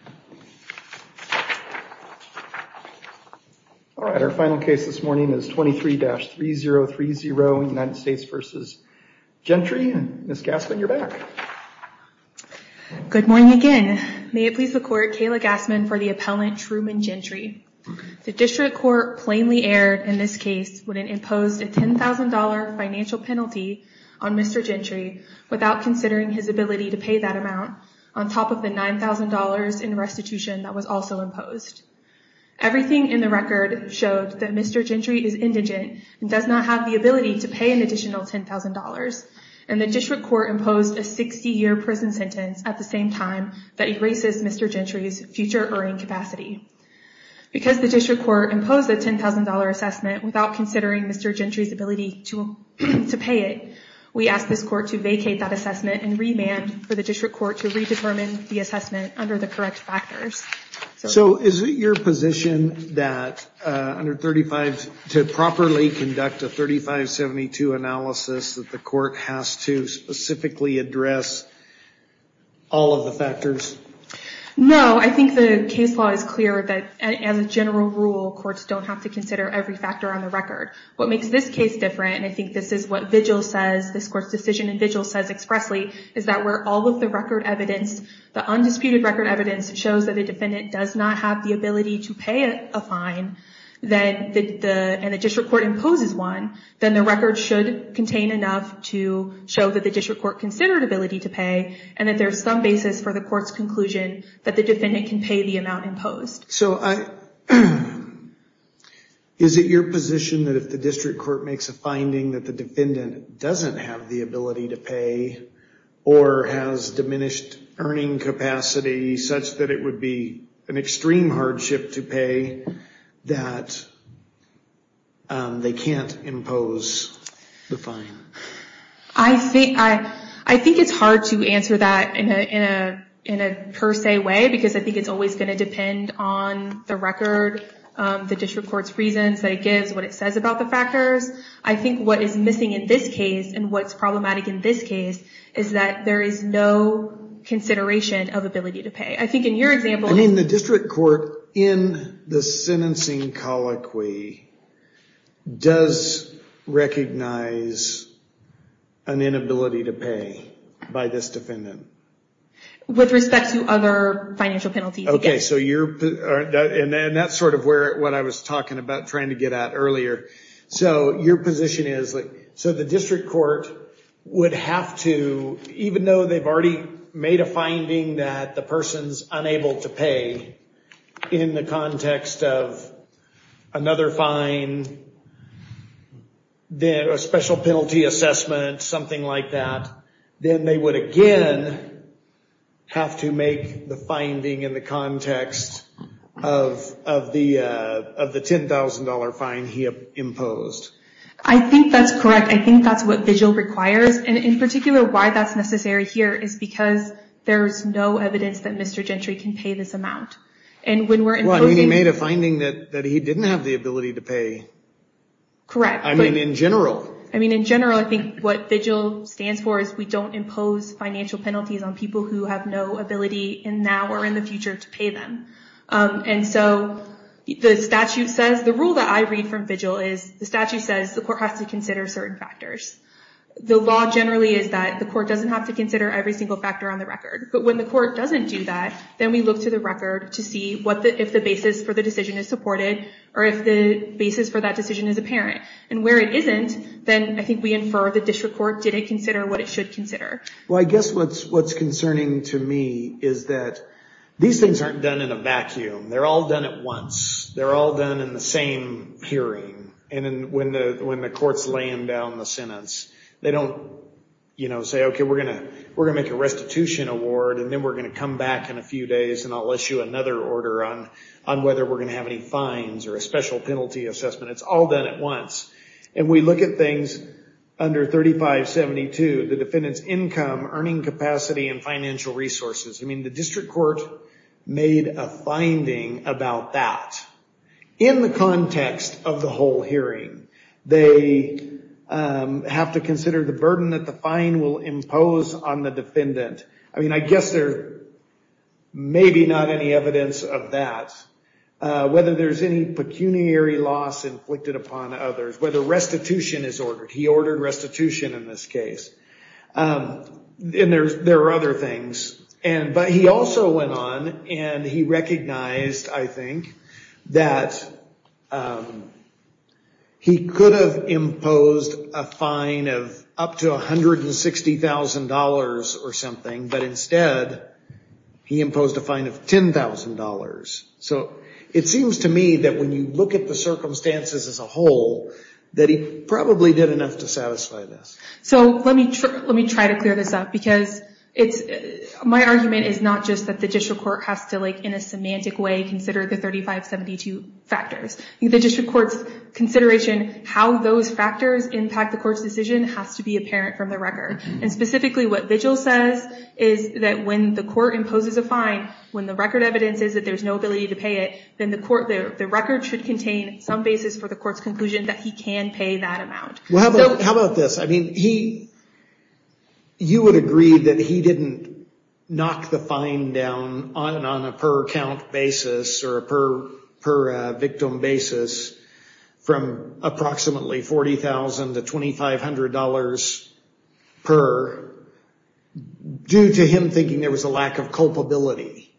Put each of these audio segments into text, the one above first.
and Ms. Gassman, you're back. Good morning again. May it please the court, Kayla Gassman for the appellant Truman Gentry. The District Court plainly erred in this case when it imposed a $10,000 financial penalty on Mr. Gentry without considering his ability to pay that amount on top of the $9,000 in additional fees. Everything in the record showed that Mr. Gentry is indigent and does not have the ability to pay an additional $10,000, and the District Court imposed a 60-year prison sentence at the same time that erases Mr. Gentry's future earning capacity. Because the District Court imposed a $10,000 assessment without considering Mr. Gentry's ability to pay it, we ask this court to vacate that assessment and remand for the District Court to redetermine the assessment under the correct factors. So is it your position that under 35, to properly conduct a 3572 analysis that the court has to specifically address all of the factors? No, I think the case law is clear that as a general rule, courts don't have to consider every factor on the record. What makes this case different, and I think this is what this court's decision and vigil says expressly, is that where all of the undisputed record evidence shows that the defendant does not have the ability to pay a fine, and the District Court imposes one, then the record should contain enough to show that the District Court considered ability to pay, and that there's some basis for the court's conclusion that the defendant can pay the amount imposed. So is it your position that if the District Court makes a finding that the defendant doesn't have the ability to pay, or has diminished earning capacity such that it would be an extreme hardship to pay, that they can't impose the fine? I think it's hard to answer that in a per se way, because I think it's always going to depend on the record, the District Court's reasons that it gives, what it says about the factors. I think what is missing in this case, and what's problematic in this case, is that there is no consideration of ability to pay. I mean, the District Court, in the sentencing colloquy, does recognize an inability to pay by this defendant. With respect to other financial penalties? And that's sort of what I was talking about trying to get at earlier. So your position is, so the District Court would have to, even though they've already made a finding that the person's unable to pay, in the context of another fine, a special penalty assessment, something like that, then they would again have to make the finding in the context of the $10,000 fine he imposed. I think that's correct. I think that's what VIGIL requires. And in particular, why that's necessary here is because there's no evidence that Mr. Gentry can pay this amount. Well, I mean, he made a finding that he didn't have the ability to pay. Correct. I mean, in general. I mean, in general, I think what VIGIL stands for is we don't impose financial penalties on people who have no ability in now or in the future to pay them. And so the statute says, the rule that I read from VIGIL is the statute says the court has to consider certain factors. The law generally is that the court doesn't have to consider every single factor on the record. But when the court doesn't do that, then we look to the record to see if the basis for the decision is supported or if the basis for that decision is apparent. And where it isn't, then I think we infer the district court didn't consider what it should consider. Well, I guess what's concerning to me is that these things aren't done in a vacuum. They're all done at once. They're all done in the same hearing. And when the court's laying down the sentence, they don't say, OK, we're going to make a restitution award, and then we're going to come back in a few days, and I'll issue another order on whether we're going to have any fines or a special penalty assessment. It's all done at once. And we look at things under 3572, the defendant's income, earning capacity, and financial resources. I mean, the district court made a finding about that. In the context of the whole hearing, they have to consider the burden that the fine will impose on the defendant. I mean, I guess there may be not any evidence of that. Whether there's any pecuniary loss inflicted upon others, whether restitution is ordered. He ordered restitution in this case. And there are other things. But he also went on and he recognized, I think, that he could have imposed a fine of up to $160,000 or something, but instead he imposed a fine of $10,000. So it seems to me that when you look at the circumstances as a whole, that he probably did enough to satisfy this. So let me try to clear this up, because my argument is not just that the district court has to, in a semantic way, consider the 3572 factors. The district court's consideration how those factors impact the court's decision has to be apparent from the record. And specifically, what Vigil says is that when the court imposes a fine, when the record evidence is that there's no ability to pay it, then the record should contain some basis for the court's conclusion that he can pay that amount. Well, how about this? I mean, you would agree that he didn't knock the fine down on a per count basis or a per victim basis from approximately $40,000 to $2,500 per due to him thinking there was a lack of culpability.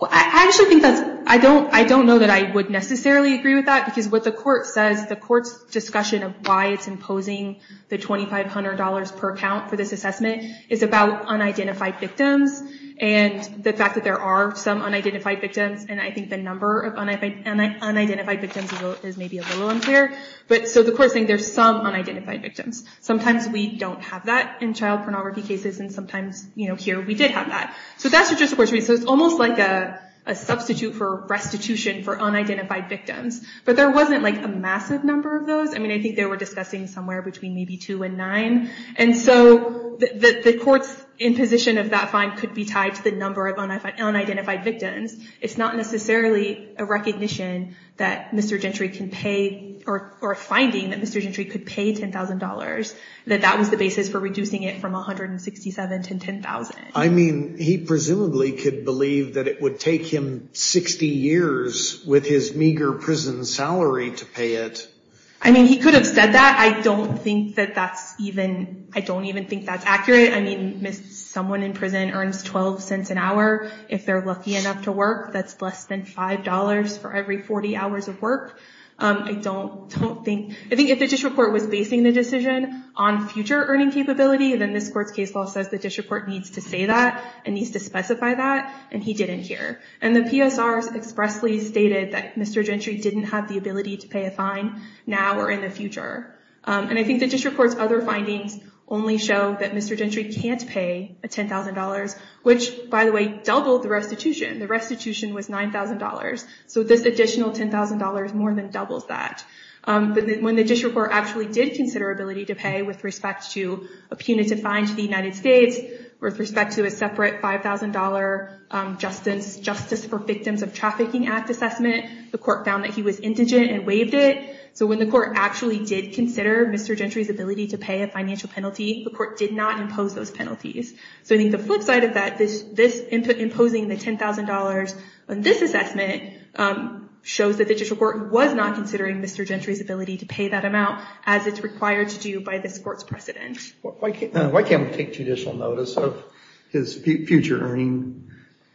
Well, I actually think that's, I don't know that I would necessarily agree with that, because what the court says, the court's discussion of why it's imposing the $2,500 per count for this assessment is about unidentified victims and the fact that there are some unidentified victims. And I think the number of unidentified victims is maybe a little unclear. But so the court's saying there's some unidentified victims. Sometimes we don't have that in child pornography cases. And sometimes, here, we did have that. So that's what district courts read. So it's almost like a substitute for restitution for unidentified victims. But there wasn't a massive number of those. I mean, I think they were discussing somewhere between maybe two and nine. And so the court's imposition of that fine could be tied to the number of unidentified victims. It's not necessarily a recognition that Mr. Gentry can pay or a finding that Mr. Gentry could pay $10,000, that that was the basis for reducing it from $167,000 to $10,000. I mean, he presumably could believe that it would take him 60 years with his meager prison salary to pay it. I mean, he could have said that. I don't even think that's accurate. I mean, someone in prison earns $0.12 an hour if they're lucky enough to work. That's less than $5 for every 40 hours of work. I think if the district court was basing the decision on future earning capability, then this court's case law says the district court needs to say that and needs to specify that. And he didn't here. And the PSRs expressly stated that Mr. Gentry didn't have the ability to pay a fine now or in the future. And I think the district court's other findings only show that Mr. Gentry can't pay $10,000, which, by the way, doubled the restitution. The restitution was $9,000. So this additional $10,000 more than doubles that. But when the district court actually did consider ability to pay with respect to a punitive fine to the United States, with respect to a separate $5,000 Justice for Victims of Trafficking Act assessment, the court found that he was indigent and waived it. So when the court actually did consider Mr. Gentry's ability to pay a financial penalty, the court did not impose those penalties. So I think the flip side of that, this imposing the $10,000 on this assessment, shows that the district court was not considering Mr. Gentry's ability to pay that amount as it's required to do by this court's precedent. Why can't we take judicial notice of his future earning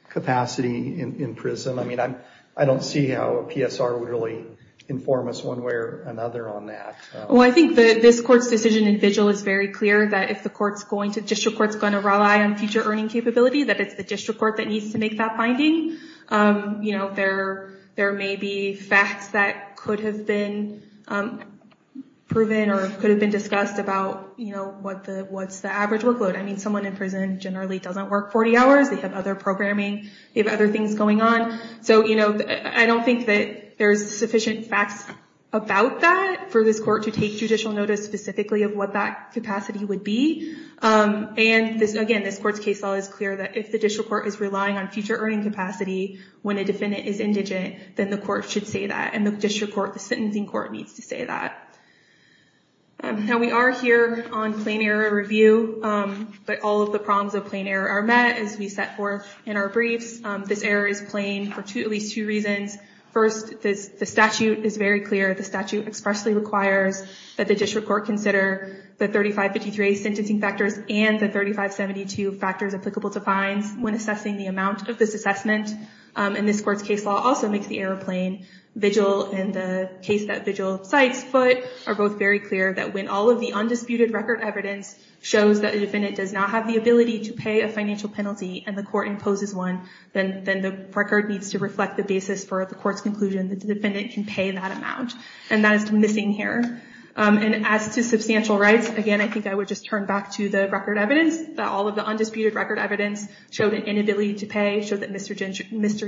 capacity in prison? I mean, I don't see how a PSR would really inform us one way or another on that. Well, I think this court's decision in vigil is very clear that if the district court's going to rely on future earning capability, that it's the district court that needs to make that finding. There may be facts that could have been proven or could have been discussed about what's the average workload. I mean, someone in prison generally doesn't work 40 hours. They have other programming. They have other things going on. So I don't think that there's sufficient facts about that for this court to take judicial notice specifically of what that capacity would be. And again, this court's case law is clear that if the district court is relying on future earning capacity when a defendant is indigent, then the court should say that. And the district court, the sentencing court, needs to say that. Now, we are here on plain error review, but all of the problems of plain error are met, as we set forth in our briefs. This error is plain for at least two reasons. First, the statute is very clear. The statute expressly requires that the district court consider the 3553A sentencing factors and the 3572 factors applicable to fines when assessing the amount of this assessment. And this court's case law also makes the error plain. Vigil and the case that Vigil cites foot are both very clear that when all of the undisputed record evidence shows that the defendant does not have the ability to pay a financial penalty and the court imposes one, then the record needs to reflect the basis for the court's conclusion that the defendant can pay that amount. And that is missing here. And as to substantial rights, again, I think I would just turn back to the record evidence that all of the undisputed record evidence showed an inability to pay, showed that Mr.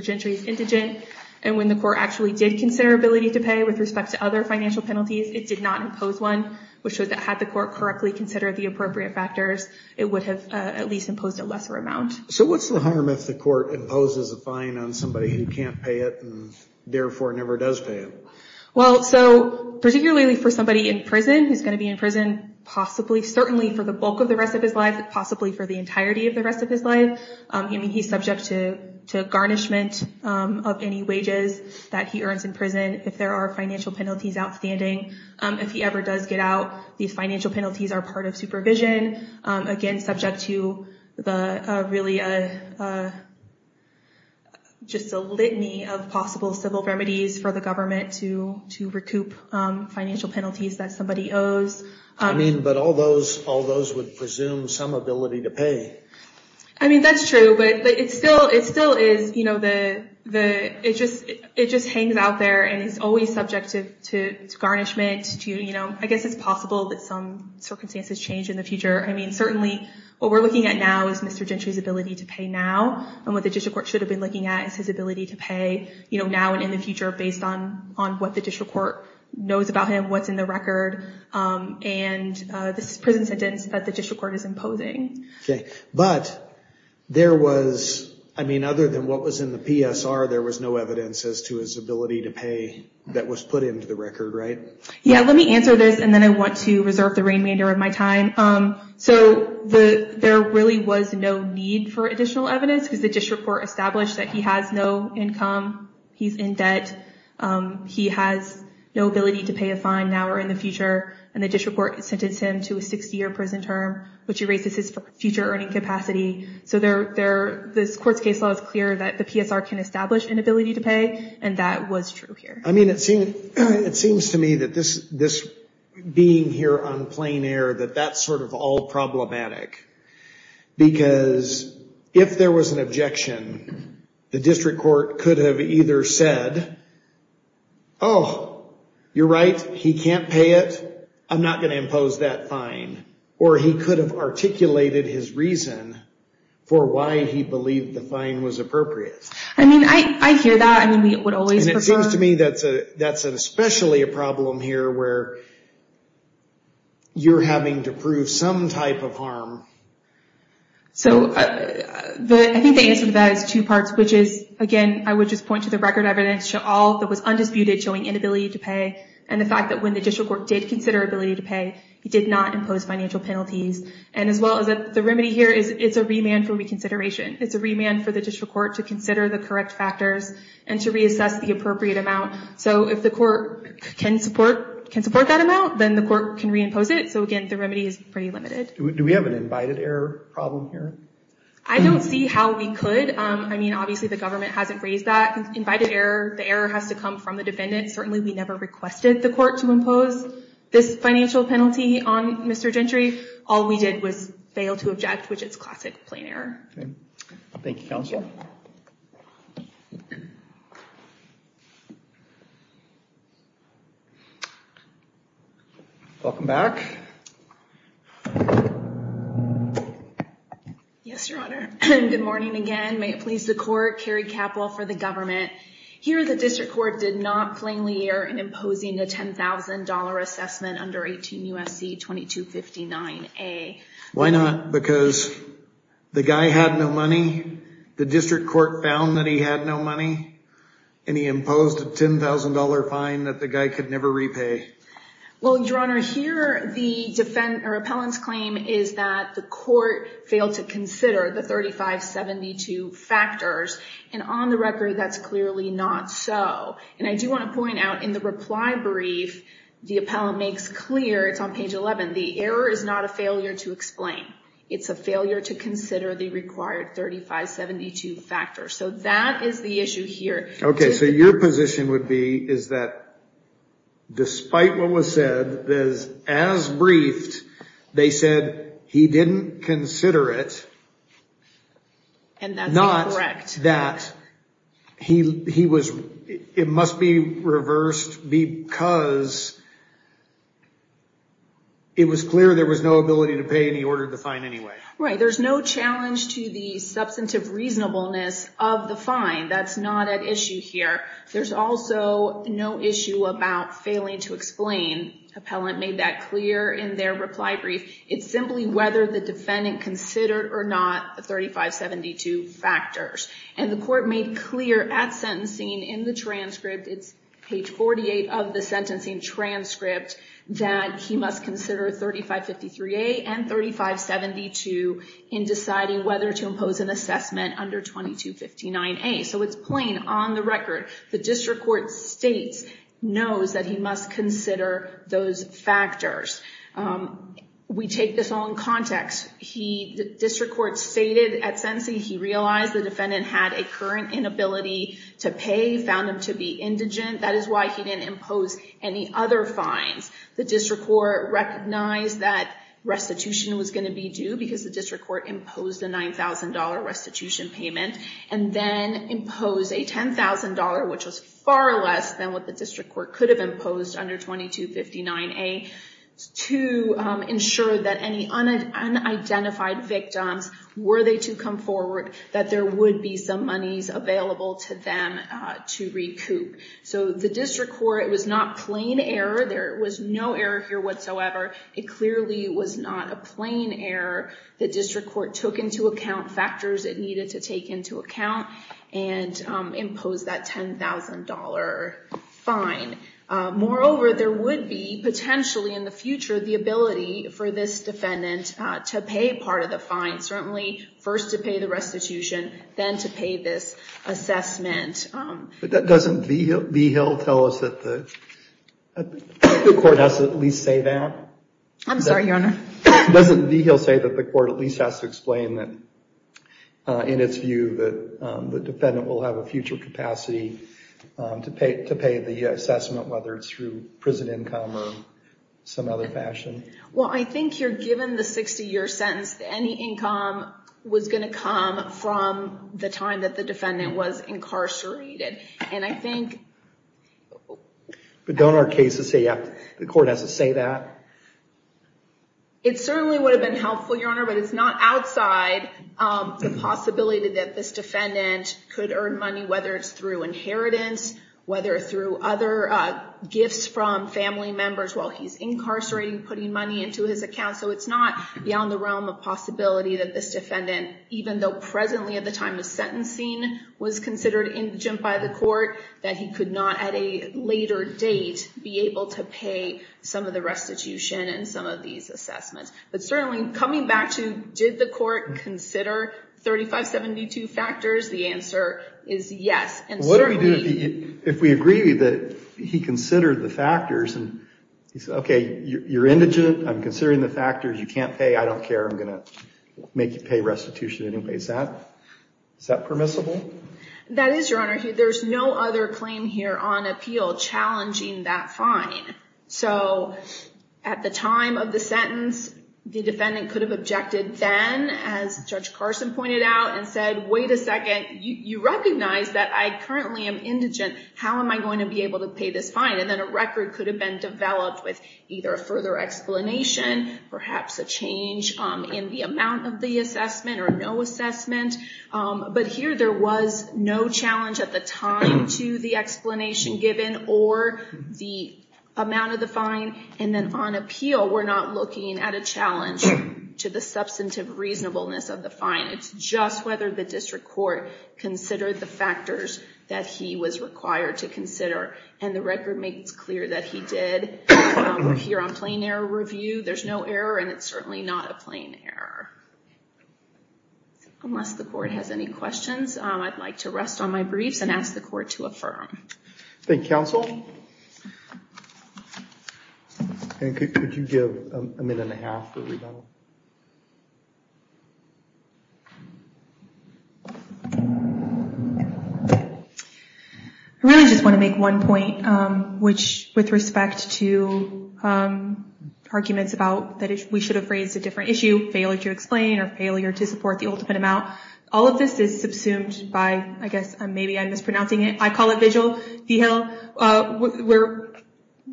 Gentry is indigent. And when the court actually did consider ability to pay with respect to other financial penalties, it did not impose one, which showed that had the court correctly considered the appropriate factors, it would have at least imposed a lesser amount. So what's the harm if the court imposes a fine on somebody who can't pay it and therefore never does pay it? Well, so particularly for somebody in prison, who's going to be in prison, possibly certainly for the bulk of the rest of his life, possibly for the entirety of the rest of his life. I mean, he's subject to garnishment of any wages that he earns in prison if there are financial penalties outstanding. If he ever does get out, these financial penalties are part of supervision. Again, subject to really just a litany of possible civil remedies for the government to recoup financial penalties that somebody owes. I mean, but all those would presume some ability to pay. I mean, that's true. But it still is. It just hangs out there. And it's always subject to garnishment. I guess it's possible that some circumstances change in the future. I mean, certainly what we're looking at now is Mr. Gentry's ability to pay now. And what the district court should have been looking at is his ability to pay now and in the future based on what the district court knows about him, what's in the record, and this prison sentence that the district court is imposing. But there was, I mean, other than what was in the PSR, there was no evidence as to his ability to pay that was put into the record, right? Yeah, let me answer this. And then I want to reserve the remainder of my time. So there really was no need for additional evidence because the district court established that he has no income. He's in debt. He has no ability to pay a fine now or in the future. And the district court sentenced him to a 60-year prison term, which erases his future earning capacity. So this court's case law is clear that the PSR can establish an ability to pay, and that was true here. I mean, it seems to me that this being here on plain air, that that's sort of all problematic. Because if there was an objection, the district court could have either said, oh, you're right, he can't pay it. I'm not going to impose that fine. Or he could have articulated his reason for why he believed the fine was appropriate. I mean, I hear that. And it seems to me that that's especially a problem here where you're having to prove some type of harm. So I think the answer to that is two parts, which is, again, I would just point to the record evidence. Show all that was undisputed, showing inability to pay. And the fact that when the district court did consider ability to pay, he did not impose financial penalties. And as well as the remedy here is it's a remand for reconsideration. It's a remand for the district court to consider the correct factors and to reassess the appropriate amount. So if the court can support that amount, then the court can reimpose it. So, again, the remedy is pretty limited. Do we have an invited error problem here? I don't see how we could. I mean, obviously, the government hasn't raised that invited error. The error has to come from the defendant. Certainly, we never requested the court to impose this financial penalty on Mr. Gentry. All we did was fail to object, which is classic plain error. Thank you, counsel. Welcome back. Yes, Your Honor. Good morning again. May it please the court. Carrie Capple for the government. Here, the district court did not plainly err in imposing a $10,000 assessment under 18 U.S.C. 2259A. Why not? Because the guy had no money. The district court found that he had no money. And he imposed a $10,000 fine that the guy could never repay. Well, Your Honor, here, the repellent's claim is that the court failed to consider the 3572 factors. And on the record, that's clearly not so. And I do want to point out, in the reply brief, the appellant makes clear, it's on page 11, the error is not a failure to explain. It's a failure to consider the required 3572 factors. So that is the issue here. Okay, so your position would be is that despite what was said, as briefed, they said he didn't consider it. And that's incorrect. Not that he was, it must be reversed because it was clear there was no ability to pay and he ordered the fine anyway. Right, there's no challenge to the substantive reasonableness of the fine. That's not at issue here. There's also no issue about failing to explain. Appellant made that clear in their reply brief. It's simply whether the defendant considered or not the 3572 factors. And the court made clear at sentencing in the transcript, it's page 48 of the sentencing transcript, that he must consider 3553A and 3572 in deciding whether to impose an assessment under 2259A. So it's plain on the record. The district court states, knows that he must consider those factors. We take this all in context. The district court stated at sentencing he realized the defendant had a current inability to pay, found him to be indigent. That is why he didn't impose any other fines. The district court recognized that restitution was going to be due because the district court imposed a $9,000 restitution payment and then imposed a $10,000, which was far less than what the district court could have imposed under 2259A. To ensure that any unidentified victims, were they to come forward, that there would be some monies available to them to recoup. So the district court, it was not plain error. There was no error here whatsoever. It clearly was not a plain error. The district court took into account factors it needed to take into account and imposed that $10,000 fine. Moreover, there would be, potentially in the future, the ability for this defendant to pay part of the fine. Certainly first to pay the restitution, then to pay this assessment. But doesn't Vigil tell us that the court has to at least say that? I'm sorry, Your Honor. Doesn't Vigil say that the court at least has to explain that, in its view, that the defendant will have a future capacity to pay the assessment, whether it's through prison income or some other fashion? Well, I think you're given the 60-year sentence that any income was going to come from the time that the defendant was incarcerated. And I think... But don't our cases say the court has to say that? It certainly would have been helpful, Your Honor, but it's not outside the possibility that this defendant could earn money, whether it's through inheritance, whether it's through other gifts from family members while he's incarcerated, putting money into his account. So it's not beyond the realm of possibility that this defendant, even though presently at the time of sentencing was considered indigent by the court, that he could not at a later date be able to pay some of the restitution and some of these assessments. But certainly, coming back to did the court consider 3572 factors, the answer is yes. And certainly... What do we do if we agree that he considered the factors and he said, okay, you're indigent, I'm considering the factors, you can't pay, I don't care, I'm going to make you pay restitution anyway. Is that permissible? That is, Your Honor. There's no other claim here on appeal challenging that fine. So at the time of the sentence, the defendant could have objected then, as Judge Carson pointed out, and said, wait a second, you recognize that I currently am indigent, how am I going to be able to pay this fine? And then a record could have been developed with either a further explanation, perhaps a change in the amount of the assessment or no assessment. But here, there was no challenge at the time to the explanation given or the amount of the fine. And then on appeal, we're not looking at a challenge to the substantive reasonableness of the fine. It's just whether the district court considered the factors that he was required to consider. And the record makes it clear that he did. Here on plain error review, there's no error and it's certainly not a plain error. Unless the court has any questions, I'd like to rest on my briefs and ask the court to affirm. Thank you, counsel. I really just want to make one point, which with respect to arguments about that we should have raised a different issue, failure to explain or failure to support the ultimate amount. All of this is subsumed by, I guess, maybe I'm mispronouncing it. I call it Vigil.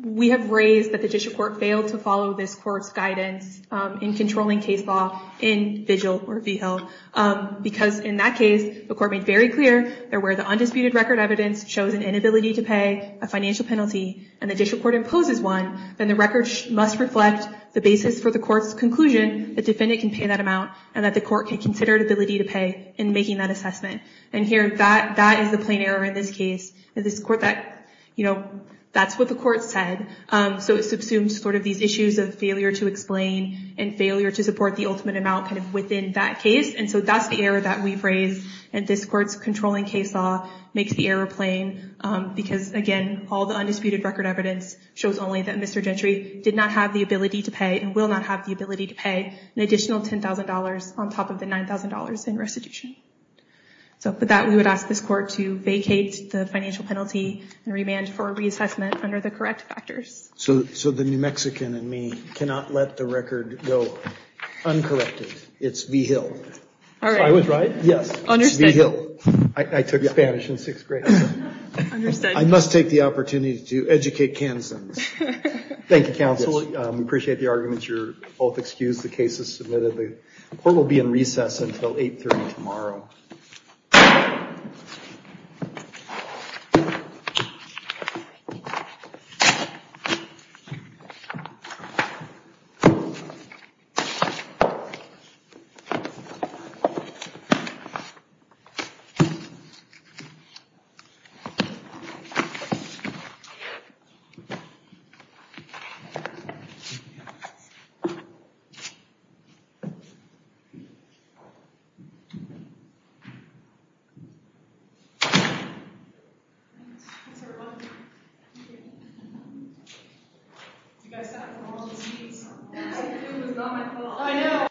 We have raised that the district court failed to follow this court's guidance in controlling case law in Vigil or Vigil. Because in that case, the court made very clear that where the undisputed record evidence shows an inability to pay a financial penalty and the district court imposes one, then the record must reflect the basis for the court's conclusion that the defendant can pay that amount and that the court can consider the ability to pay in making that assessment. And here, that is the plain error in this case. That's what the court said. So it subsumes these issues of failure to explain and failure to support the ultimate amount within that case. And so that's the error that we've raised. And this court's controlling case law makes the error plain. Because, again, all the undisputed record evidence shows only that Mr. Gentry did not have the ability to pay and will not have the ability to pay an additional $10,000 on top of the $9,000 in restitution. So with that, we would ask this court to vacate the financial penalty and remand for reassessment under the correct factors. So the New Mexican in me cannot let the record go uncorrected. It's Vigil. I was right? Yes. It's Vigil. I took Spanish in sixth grade. Understood. I must take the opportunity to educate Kansans. Thank you, Counsel. Yes. Appreciate the argument. You're both excused. The case is submitted. The court will be in recess until 8.30 tomorrow. Thank you. Thanks, everyone. Thank you. You guys have to go on the scenes. It was not my fault. I know.